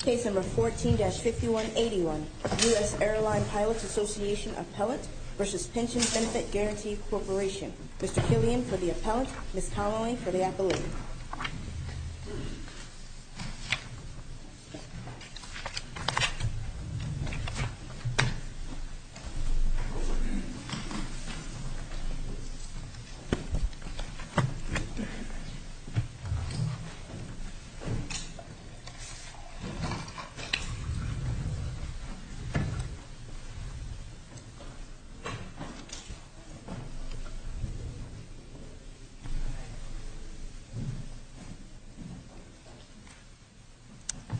Case No. 14-5181, U.S. Airline Pilots Association Appellant v. Pension Benefit Guarantee Corporation Mr. Killian for the Appellant, Ms. Connelly for the Appellant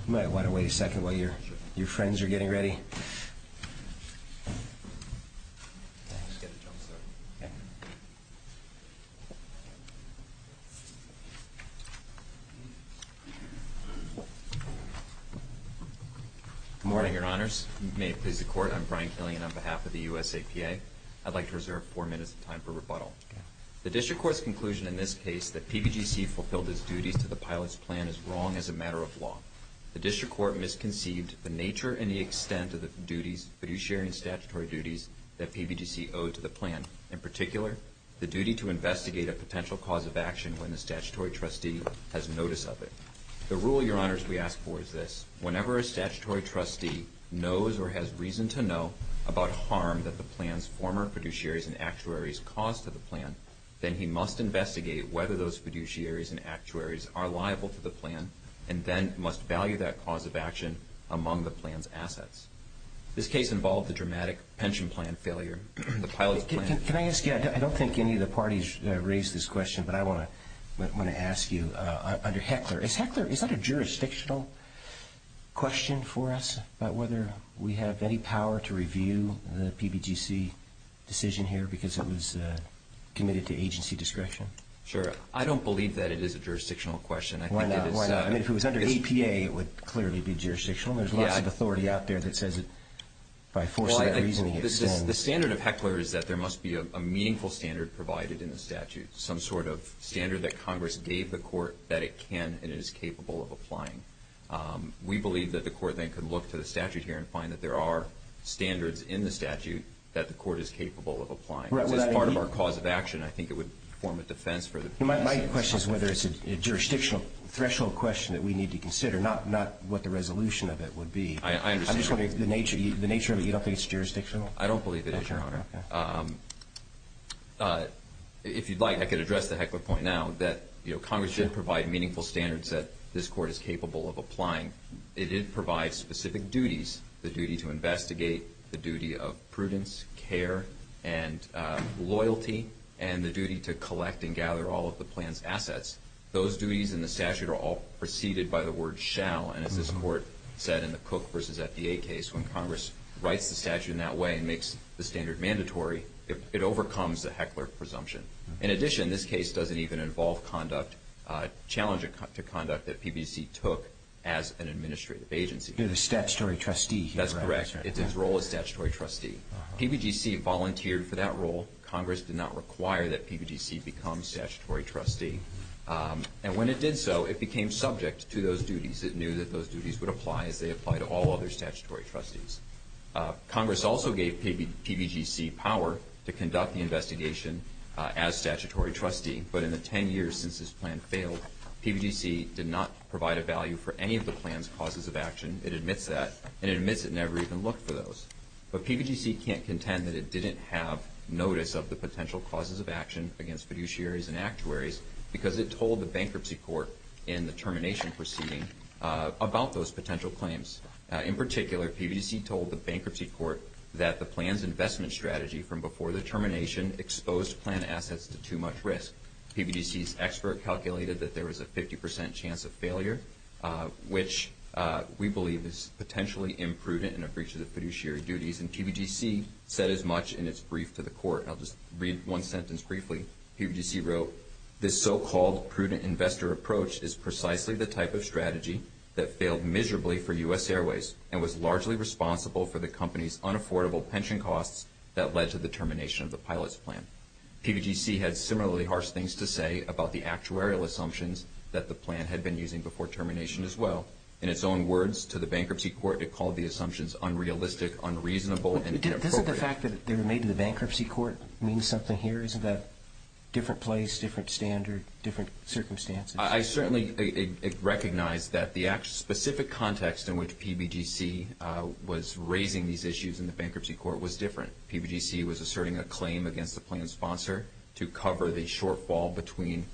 You might want to wait a second while your friends are getting ready. Good morning, Your Honors. May it please the Court, I'm Brian Killian on behalf of the U.S. APA. I'd like to reserve four minutes of time for rebuttal. The District Court's conclusion in this case that PBGC fulfilled its duties to the pilots' plan is wrong as a matter of law. The District Court misconceived the nature and the extent of the duties, fiduciary and statutory duties, that PBGC owed to the plan. In particular, the duty to investigate a potential cause of action when the statutory trustee has notice of it. The rule, Your Honors, we ask for is this. Whenever a statutory trustee knows or has reason to know about harm that the plan's former fiduciaries and actuaries caused to the plan, then he must investigate whether those fiduciaries and actuaries are liable to the plan and then must value that cause of action among the plan's assets. This case involved the dramatic pension plan failure. The pilot plan Can I ask you, I don't think any of the parties raised this question, but I want to ask you. Under Heckler, is Heckler, is that a jurisdictional question for us about whether we have any power to review the PBGC decision here because it was committed to agency discretion? Sure. I don't believe that it is a jurisdictional question. Why not? Why not? I mean, if it was under APA, it would clearly be jurisdictional. There's lots of authority out there that says that by forcing that reasoning, it's wrong. The standard of Heckler is that there must be a meaningful standard provided in the statute, some sort of standard that Congress gave the court that it can and is capable of applying. We believe that the court then could look to the statute here and find that there are standards in the statute that the court is capable of applying. As part of our cause of action, I think it would form a defense for the president. My question is whether it's a jurisdictional threshold question that we need to consider, not what the resolution of it would be. I understand. The nature of it, you don't think it's jurisdictional? I don't believe it is, Your Honor. Okay. If you'd like, I could address the Heckler point now that, you know, Congress did provide meaningful standards that this court is capable of applying. It did provide specific duties, the duty to investigate, the duty of prudence, care, and loyalty, and the duty to collect and gather all of the plan's assets. Those duties in the statute are all preceded by the word shall. And as this court said in the Cook v. FDA case, when Congress writes the statute in that way and makes the standard mandatory, it overcomes the Heckler presumption. In addition, this case doesn't even involve conduct, challenge to conduct that PBGC took as an administrative agency. You're the statutory trustee here, right? That's correct. It's its role as statutory trustee. PBGC volunteered for that role. Congress did not require that PBGC become statutory trustee. And when it did so, it became subject to those duties. It knew that those duties would apply as they apply to all other statutory trustees. Congress also gave PBGC power to conduct the investigation as statutory trustee. But in the 10 years since this plan failed, PBGC did not provide a value for any of the plan's causes of action. It admits that. And it admits it never even looked for those. But PBGC can't contend that it didn't have notice of the potential causes of action against fiduciaries and actuaries because it told the bankruptcy court in the termination proceeding about those potential claims. In particular, PBGC told the bankruptcy court that the plan's investment strategy from before the termination exposed plan assets to too much risk. PBGC's expert calculated that there was a 50 percent chance of failure, which we believe is potentially imprudent in a breach of the fiduciary duties. And PBGC said as much in its brief to the court. I'll just read one sentence briefly. PBGC wrote, this so-called prudent investor approach is precisely the type of strategy that failed miserably for U.S. Airways and was largely responsible for the company's unaffordable pension costs that led to the termination of the pilot's plan. PBGC had similarly harsh things to say about the actuarial assumptions that the plan had been using before termination as well. In its own words to the bankruptcy court, it called the assumptions unrealistic, unreasonable, and inappropriate. But doesn't the fact that they were made to the bankruptcy court mean something here? Isn't that a different place, different standard, different circumstances? I certainly recognize that the specific context in which PBGC was raising these issues in the bankruptcy court was different. PBGC was asserting a claim against the plan's sponsor to cover the shortfall between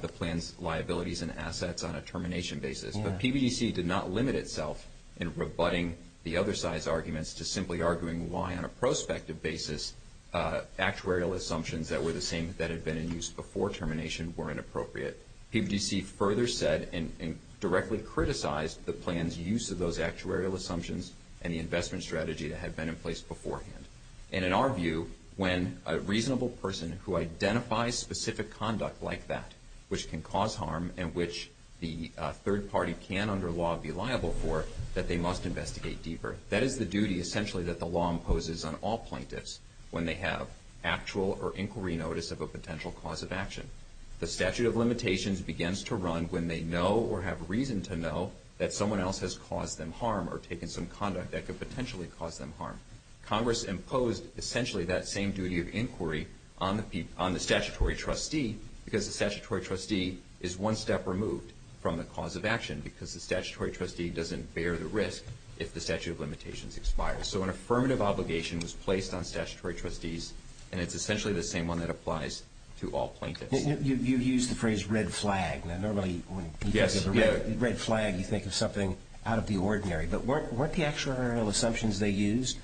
the plan's liabilities and assets on a termination basis. But PBGC did not limit itself in rebutting the other side's arguments to simply arguing why, on a prospective basis, actuarial assumptions that were the same that had been in use before termination were inappropriate. PBGC further said and directly criticized the plan's use of those actuarial assumptions and the investment strategy that had been in place beforehand. And in our view, when a reasonable person who identifies specific conduct like that, which can cause harm and which the third party can under law be liable for, that they must investigate deeper. That is the duty essentially that the law imposes on all plaintiffs when they have actual or inquiry notice of a potential cause of action. The statute of limitations begins to run when they know or have reason to know that someone else has caused them harm or taken some conduct that could potentially cause them harm. Congress imposed essentially that same duty of inquiry on the statutory trustee because the statutory trustee is one step removed from the cause of action because the statutory trustee doesn't bear the risk if the statute of limitations expires. So an affirmative obligation was placed on statutory trustees, and it's essentially the same one that applies to all plaintiffs. You used the phrase red flag. Now, normally when you think of a red flag, you think of something out of the ordinary. But weren't the actuarial assumptions they used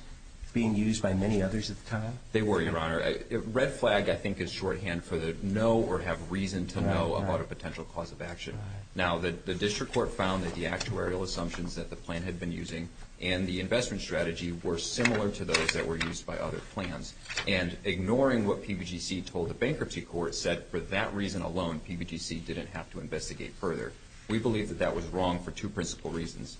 being used by many others at the time? They were, Your Honor. Red flag, I think, is shorthand for the know or have reason to know about a potential cause of action. Now, the district court found that the actuarial assumptions that the plan had been using and the investment strategy were similar to those that were used by other plans. And ignoring what PBGC told the bankruptcy court said, for that reason alone, PBGC didn't have to investigate further. We believe that that was wrong for two principal reasons.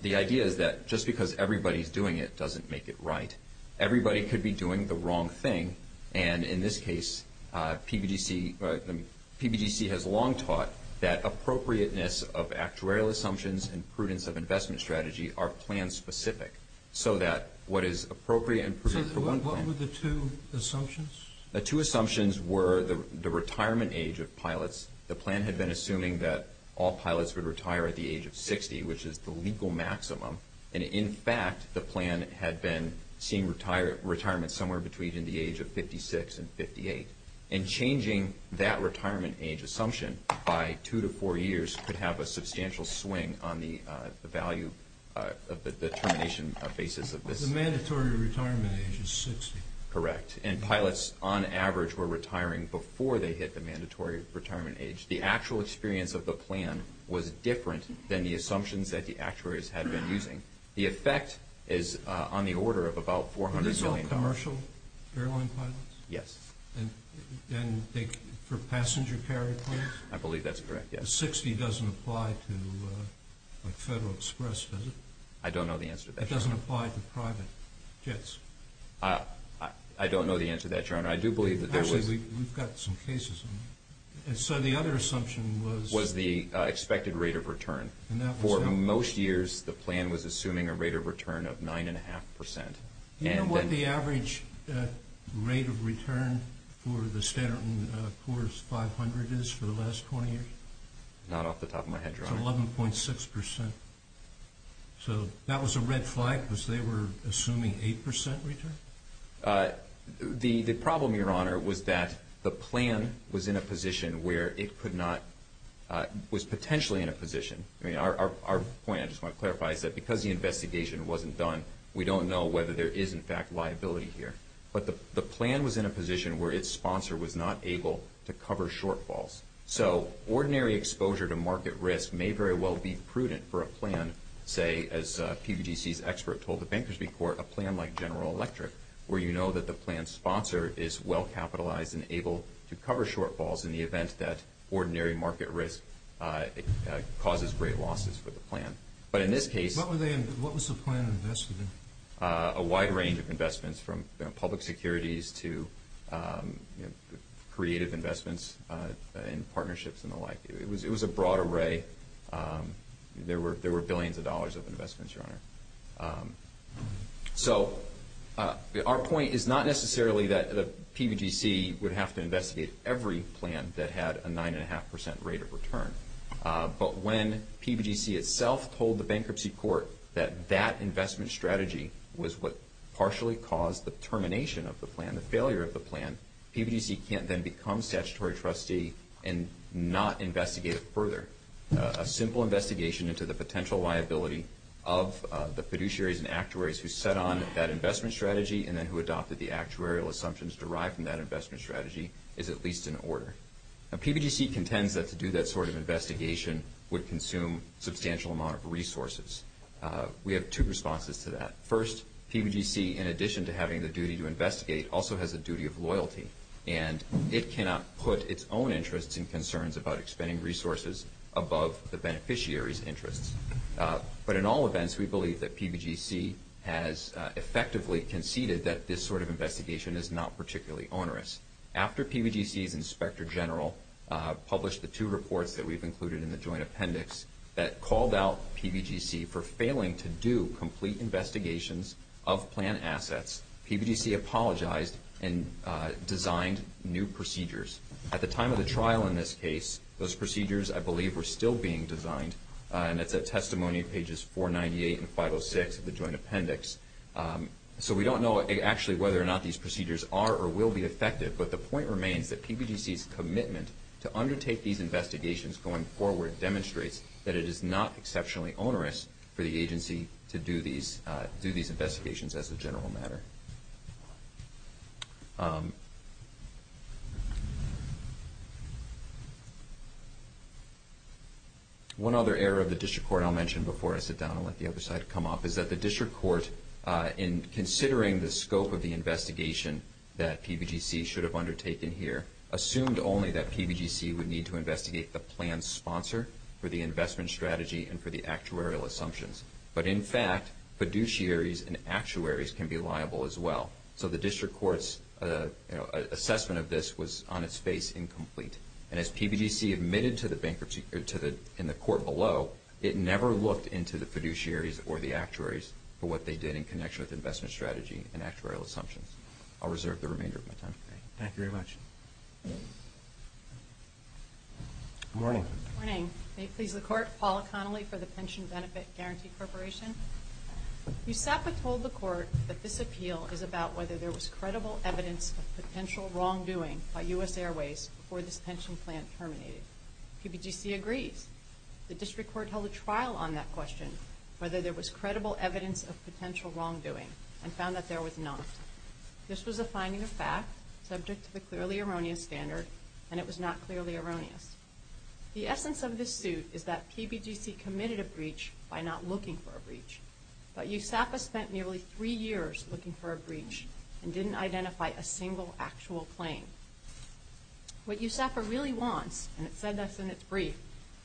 The idea is that just because everybody's doing it doesn't make it right. Everybody could be doing the wrong thing, and in this case, PBGC has long taught that appropriateness of actuarial assumptions and prudence of investment strategy are plan-specific so that what is appropriate and prudent for one plan. What were the two assumptions? The two assumptions were the retirement age of pilots. The plan had been assuming that all pilots would retire at the age of 60, which is the legal maximum. And in fact, the plan had been seeing retirement somewhere between the age of 56 and 58. And changing that retirement age assumption by two to four years could have a substantial swing on the value of the termination basis of this. The mandatory retirement age is 60. Correct. And pilots, on average, were retiring before they hit the mandatory retirement age. The actual experience of the plan was different than the assumptions that the actuaries had been using. The effect is on the order of about $400 million. Are these all commercial airline pilots? Yes. And for passenger carrier pilots? I believe that's correct, yes. The 60 doesn't apply to Federal Express, does it? I don't know the answer to that question. It doesn't apply to private jets? I don't know the answer to that, Your Honor. I do believe that there was... Actually, we've got some cases on that. And so the other assumption was... Was the expected rate of return. And that was... For most years, the plan was assuming a rate of return of 9.5%. Do you know what the average rate of return for the Standard & Poor's 500 is for the last 20 years? Not off the top of my head, Your Honor. It's 11.6%. So that was a red flag because they were assuming 8% return? The problem, Your Honor, was that the plan was in a position where it could not... Was potentially in a position... I mean, our point, I just want to clarify, is that because the investigation wasn't done, we don't know whether there is, in fact, liability here. But the plan was in a position where its sponsor was not able to cover shortfalls. So ordinary exposure to market risk may very well be prudent for a plan, say, as PBGC's expert told the Bankers' Record, a plan like General Electric, where you know that the plan's sponsor is well-capitalized and able to cover shortfalls in the event that ordinary market risk causes great losses for the plan. But in this case... What was the plan invested in? A wide range of investments from public securities to creative investments in partnerships and the like. It was a broad array. There were billions of dollars of investments, Your Honor. So our point is not necessarily that PBGC would have to investigate every plan that had a 9.5% rate of return. But when PBGC itself told the bankruptcy court that that investment strategy was what partially caused the termination of the plan, the failure of the plan, PBGC can't then become statutory trustee and not investigate it further. A simple investigation into the potential liability of the fiduciaries and actuaries who set on that investment strategy and then who adopted the actuarial assumptions derived from that investment strategy is at least in order. PBGC contends that to do that sort of investigation would consume a substantial amount of resources. We have two responses to that. First, PBGC, in addition to having the duty to investigate, also has a duty of loyalty, and it cannot put its own interests and concerns about expending resources above the beneficiary's interests. But in all events, we believe that PBGC has effectively conceded that this sort of investigation is not particularly onerous. After PBGC's inspector general published the two reports that we've included in the joint appendix that called out PBGC for failing to do complete investigations of plan assets, PBGC apologized and designed new procedures. At the time of the trial in this case, those procedures, I believe, were still being designed, and it's at testimony pages 498 and 506 of the joint appendix. So we don't know actually whether or not these procedures are or will be effective, but the point remains that PBGC's commitment to undertake these investigations going forward demonstrates that it is not exceptionally onerous for the agency to do these investigations as a general matter. One other error of the district court I'll mention before I sit down and let the other side come up is that the district court, in considering the scope of the investigation that PBGC should have undertaken here, assumed only that PBGC would need to investigate the plan's sponsor for the investment strategy and for the actuarial assumptions. But in fact, fiduciaries and actuaries can be liable as well. So the district court's assessment of this was on its face incomplete. And as PBGC admitted in the court below, it never looked into the fiduciaries or the actuaries for what they did in connection with investment strategy and actuarial assumptions. I'll reserve the remainder of my time for today. Thank you very much. Good morning. Good morning. May it please the Court, Paula Connolly for the Pension Benefit Guarantee Corporation. USAPA told the court that this appeal is about whether there was credible evidence of potential wrongdoing by U.S. Airways before this pension plan terminated. PBGC agrees. The district court held a trial on that question, whether there was credible evidence of potential wrongdoing, and found that there was not. This was a finding of fact, subject to the clearly erroneous standard, and it was not clearly erroneous. The essence of this suit is that PBGC committed a breach by not looking for a breach. But USAPA spent nearly three years looking for a breach and didn't identify a single actual claim. What USAPA really wants, and it said this in its brief,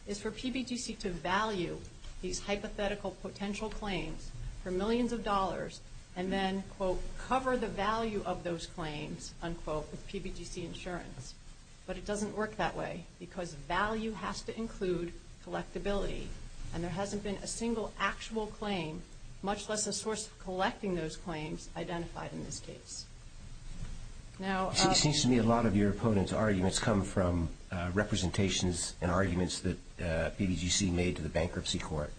is for PBGC to value these hypothetical potential claims for millions of dollars and then, quote, cover the value of those claims, unquote, with PBGC insurance. But it doesn't work that way because value has to include collectability, and there hasn't been a single actual claim, much less a source of collecting those claims, identified in this case. Now, It seems to me a lot of your opponent's arguments come from representations and arguments that PBGC made to the bankruptcy court.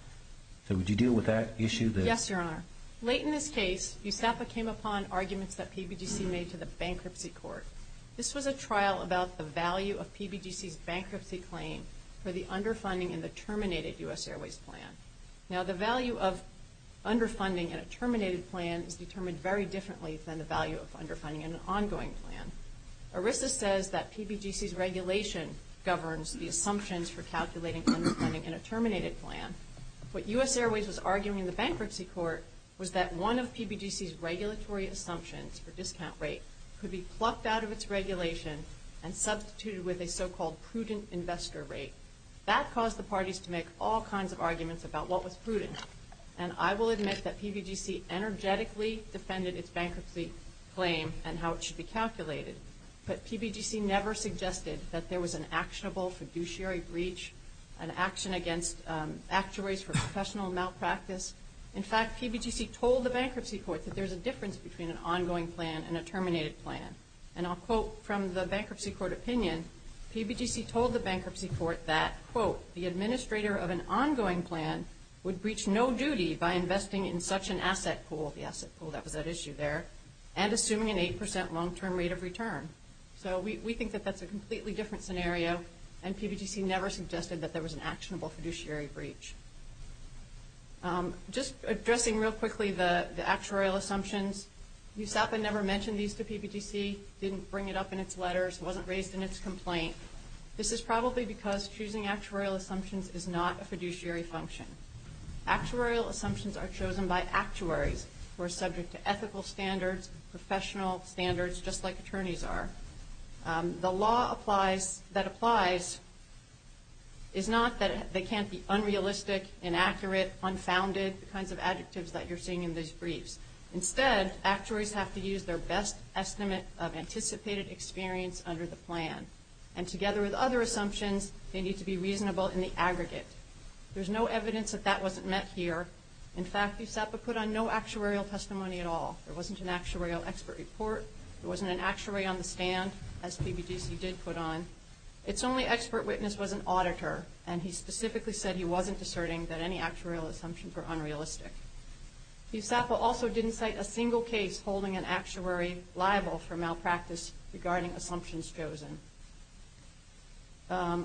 So would you deal with that issue? Yes, Your Honor. Late in this case, USAPA came upon arguments that PBGC made to the bankruptcy court. This was a trial about the value of PBGC's bankruptcy claim for the underfunding in the terminated U.S. Airways plan. Now, the value of underfunding in a terminated plan is determined very differently than the value of underfunding in an ongoing plan. ERISA says that PBGC's regulation governs the assumptions for calculating underfunding in a terminated plan. What U.S. Airways was arguing in the bankruptcy court was that one of PBGC's regulatory assumptions for discount rate could be plucked out of its regulation and substituted with a so-called prudent investor rate. That caused the parties to make all kinds of arguments about what was prudent, and I will admit that PBGC energetically defended its bankruptcy claim and how it should be calculated. But PBGC never suggested that there was an actionable fiduciary breach, an action against actuaries for professional malpractice. In fact, PBGC told the bankruptcy court that there's a difference between an ongoing plan and a terminated plan. And I'll quote from the bankruptcy court opinion, PBGC told the bankruptcy court that, quote, the administrator of an ongoing plan would breach no duty by investing in such an asset pool, the asset pool that was at issue there, and assuming an 8% long-term rate of return. So we think that that's a completely different scenario, and PBGC never suggested that there was an actionable fiduciary breach. Just addressing real quickly the actuarial assumptions, USAPA never mentioned these to PBGC, didn't bring it up in its letters, wasn't raised in its complaint. This is probably because choosing actuarial assumptions is not a fiduciary function. Actuarial assumptions are chosen by actuaries who are subject to ethical standards, professional standards, just like attorneys are. The law that applies is not that they can't be unrealistic, inaccurate, unfounded, the kinds of adjectives that you're seeing in these briefs. Instead, actuaries have to use their best estimate of anticipated experience under the plan. And together with other assumptions, they need to be reasonable in the aggregate. There's no evidence that that wasn't met here. In fact, USAPA put on no actuarial testimony at all. There wasn't an actuarial expert report. There wasn't an actuary on the stand, as PBGC did put on. Its only expert witness was an auditor, and he specifically said he wasn't asserting that any actuarial assumptions were unrealistic. USAPA also didn't cite a single case holding an actuary liable for malpractice regarding assumptions chosen.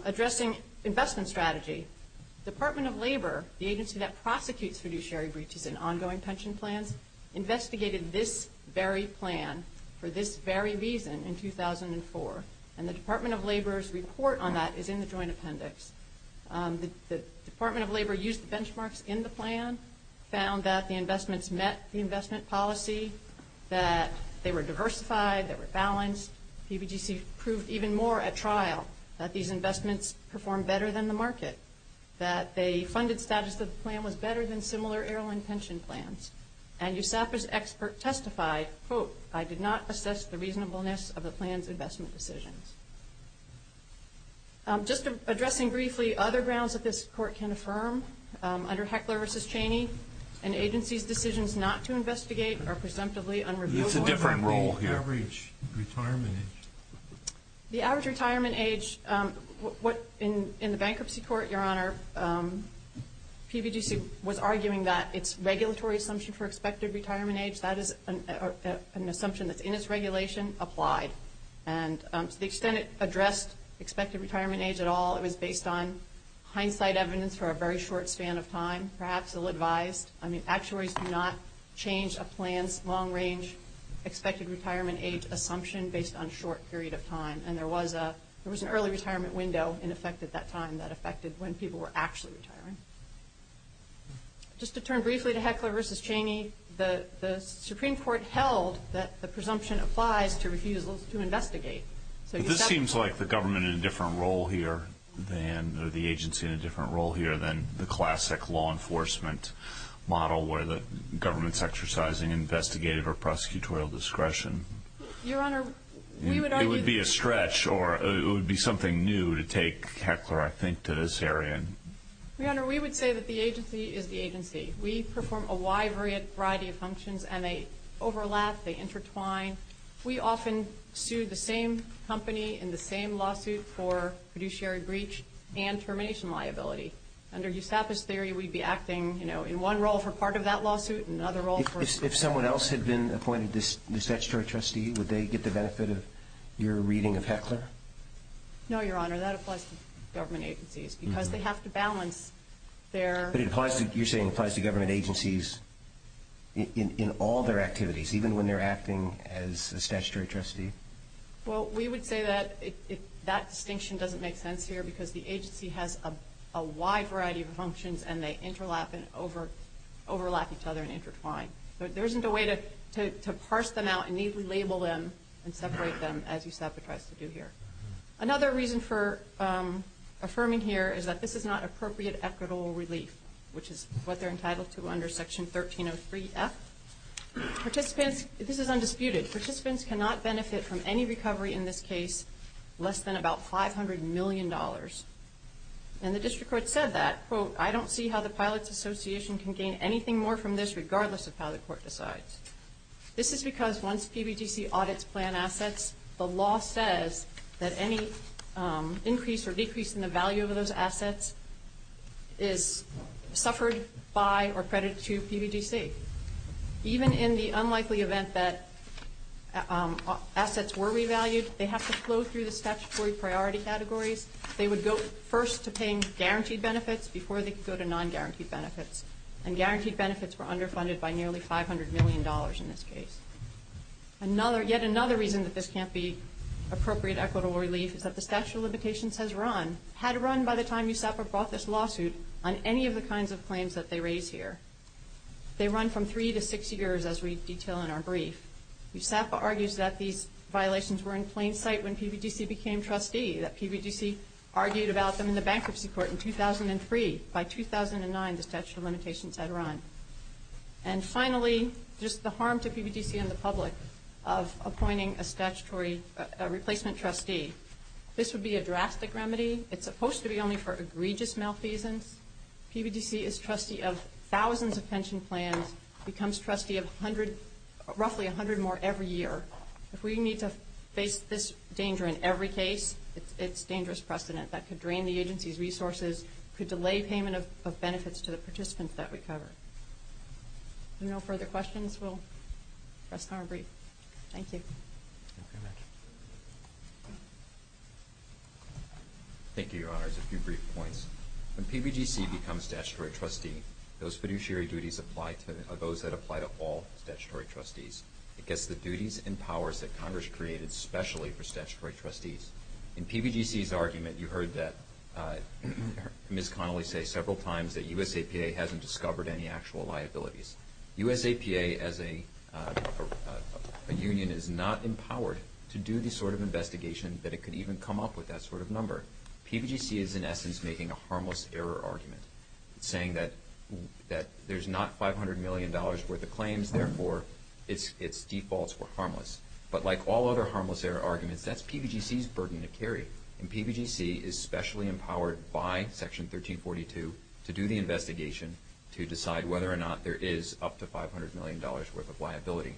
Addressing investment strategy, Department of Labor, the agency that prosecutes fiduciary breaches in ongoing pension plans, investigated this very plan for this very reason in 2004, and the Department of Labor's report on that is in the joint appendix. The Department of Labor used the benchmarks in the plan, found that the investments met the investment policy, that they were diversified, they were balanced. PBGC proved even more at trial that these investments performed better than the market, that the funded status of the plan was better than similar airline pension plans. And USAPA's expert testified, quote, I did not assess the reasonableness of the plan's investment decisions. Just addressing briefly other grounds that this court can affirm, under Heckler v. Cheney, an agency's decisions not to investigate are presumptively unreliable. It's a different role here. The average retirement age. The average retirement age, in the bankruptcy court, Your Honor, PBGC was arguing that its regulatory assumption for expected retirement age, that is an assumption that's in its regulation, applied. And to the extent it addressed expected retirement age at all, it was based on hindsight evidence for a very short span of time. Perhaps ill-advised. Actuaries do not change a plan's long-range expected retirement age assumption based on a short period of time. And there was an early retirement window in effect at that time that affected when people were actually retiring. Just to turn briefly to Heckler v. Cheney, the Supreme Court held that the presumption applies to refusals to investigate. But this seems like the government in a different role here, or the agency in a different role here than the classic law enforcement model where the government's exercising investigative or prosecutorial discretion. Your Honor, we would argue that. It would be a stretch, or it would be something new to take Heckler, I think, to this area. Your Honor, we would say that the agency is the agency. We perform a wide variety of functions, and they overlap, they intertwine. We often sue the same company in the same lawsuit for fiduciary breach and termination liability. Under USAPA's theory, we'd be acting, you know, in one role for part of that lawsuit and another role for part of that lawsuit. If someone else had been appointed the statutory trustee, would they get the benefit of your reading of Heckler? No, Your Honor. That applies to government agencies because they have to balance their— But you're saying it applies to government agencies in all their activities, even when they're acting as a statutory trustee? Well, we would say that that distinction doesn't make sense here because the agency has a wide variety of functions, and they overlap each other and intertwine. There isn't a way to parse them out and neatly label them and separate them as USAPA tries to do here. Another reason for affirming here is that this is not appropriate equitable relief, which is what they're entitled to under Section 1303F. Participants—this is undisputed. Participants cannot benefit from any recovery in this case less than about $500 million. And the district court said that, quote, I don't see how the Pilots Association can gain anything more from this regardless of how the court decides. This is because once PBGC audits plan assets, the law says that any increase or decrease in the value of those assets is suffered by or credited to PBGC. Even in the unlikely event that assets were revalued, they have to flow through the statutory priority categories. They would go first to paying guaranteed benefits before they could go to non-guaranteed benefits. And guaranteed benefits were underfunded by nearly $500 million in this case. Yet another reason that this can't be appropriate equitable relief is that the statute of limitations has run— had run by the time USAPA brought this lawsuit on any of the kinds of claims that they raise here. They run from three to six years, as we detail in our brief. USAPA argues that these violations were in plain sight when PBGC became trustee, that PBGC argued about them in the bankruptcy court in 2003. By 2009, the statute of limitations had run. And finally, just the harm to PBGC and the public of appointing a statutory replacement trustee. This would be a drastic remedy. It's supposed to be only for egregious malfeasance. PBGC is trustee of thousands of pension plans, becomes trustee of 100—roughly 100 more every year. If we need to face this danger in every case, it's dangerous precedent. That could drain the agency's resources, could delay payment of benefits to the participants that we cover. If there are no further questions, we'll rest on our brief. Thank you. Thank you, Your Honors. A few brief points. When PBGC becomes statutory trustee, those fiduciary duties apply to—those that apply to all statutory trustees. It gets the duties and powers that Congress created specially for statutory trustees. In PBGC's argument, you heard Ms. Connolly say several times that USAPA hasn't discovered any actual liabilities. USAPA, as a union, is not empowered to do the sort of investigation that it could even come up with that sort of number. PBGC is, in essence, making a harmless error argument, saying that there's not $500 million worth of claims. But like all other harmless error arguments, that's PBGC's burden to carry. And PBGC is specially empowered by Section 1342 to do the investigation to decide whether or not there is up to $500 million worth of liability.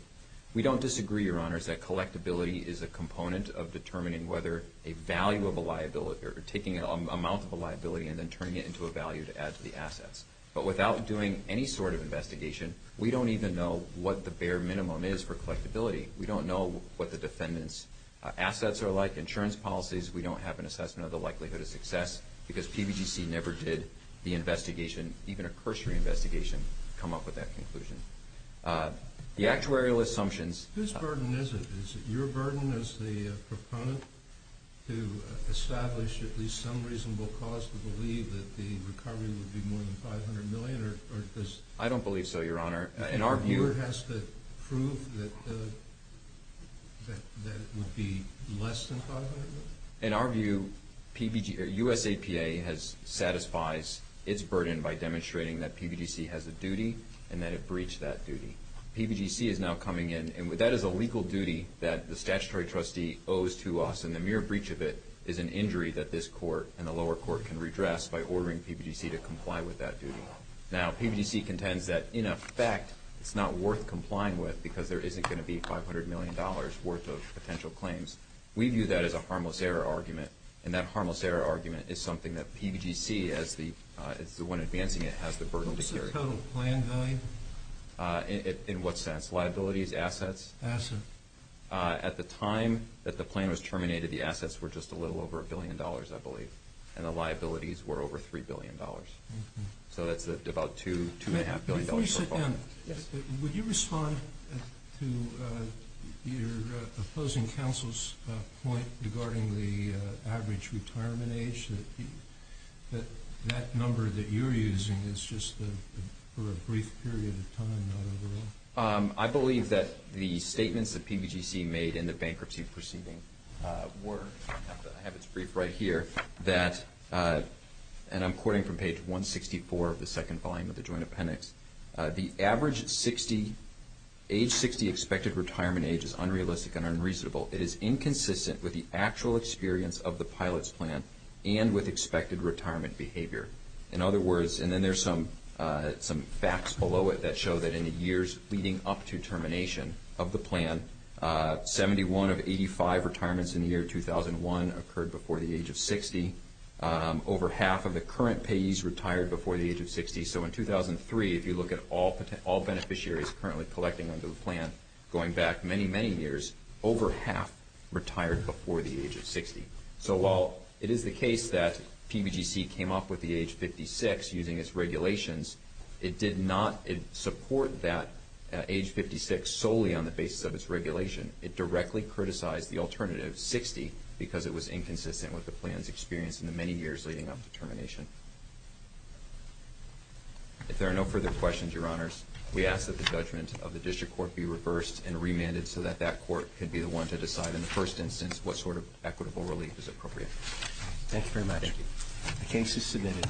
We don't disagree, Your Honors, that collectability is a component of determining whether a value of a liability—or taking an amount of a liability and then turning it into a value to add to the assets. But without doing any sort of investigation, we don't even know what the bare minimum is for collectability. We don't know what the defendant's assets are like, insurance policies. We don't have an assessment of the likelihood of success because PBGC never did the investigation, even a cursory investigation, come up with that conclusion. The actuarial assumptions— Whose burden is it? Is it your burden as the proponent to establish at least some reasonable cause to believe that the recovery would be more than $500 million? I don't believe so, Your Honor. The court has to prove that it would be less than $500 million? In our view, USAPA satisfies its burden by demonstrating that PBGC has a duty and that it breached that duty. PBGC is now coming in, and that is a legal duty that the statutory trustee owes to us, and the mere breach of it is an injury that this court and the lower court can redress by ordering PBGC to comply with that duty. Now, PBGC contends that, in effect, it's not worth complying with because there isn't going to be $500 million worth of potential claims. We view that as a harmless error argument, and that harmless error argument is something that PBGC, as the one advancing it, has the burden to carry. What's the total plan value? In what sense? Liabilities? Assets? Assets. At the time that the plan was terminated, the assets were just a little over $1 billion, I believe, and the liabilities were over $3 billion. So that's about $2.5 billion. Before you sit down, would you respond to your opposing counsel's point regarding the average retirement age, that that number that you're using is just for a brief period of time, not overall? I believe that the statements that PBGC made in the bankruptcy proceeding were, I have it briefed right here, that, and I'm quoting from page 164 of the second volume of the joint appendix, the average age 60 expected retirement age is unrealistic and unreasonable. It is inconsistent with the actual experience of the pilot's plan and with expected retirement behavior. In other words, and then there's some facts below it that show that in the years leading up to termination of the plan, 71 of 85 retirements in the year 2001 occurred before the age of 60. Over half of the current payees retired before the age of 60. So in 2003, if you look at all beneficiaries currently collecting under the plan going back many, many years, over half retired before the age of 60. So while it is the case that PBGC came up with the age 56 using its regulations, it did not support that age 56 solely on the basis of its regulation. It directly criticized the alternative, 60, because it was inconsistent with the plan's experience in the many years leading up to termination. If there are no further questions, Your Honors, we ask that the judgment of the district court be reversed and remanded so that that court could be the one to decide in the first instance what sort of equitable relief is appropriate. Thank you very much. Thank you. The case is submitted.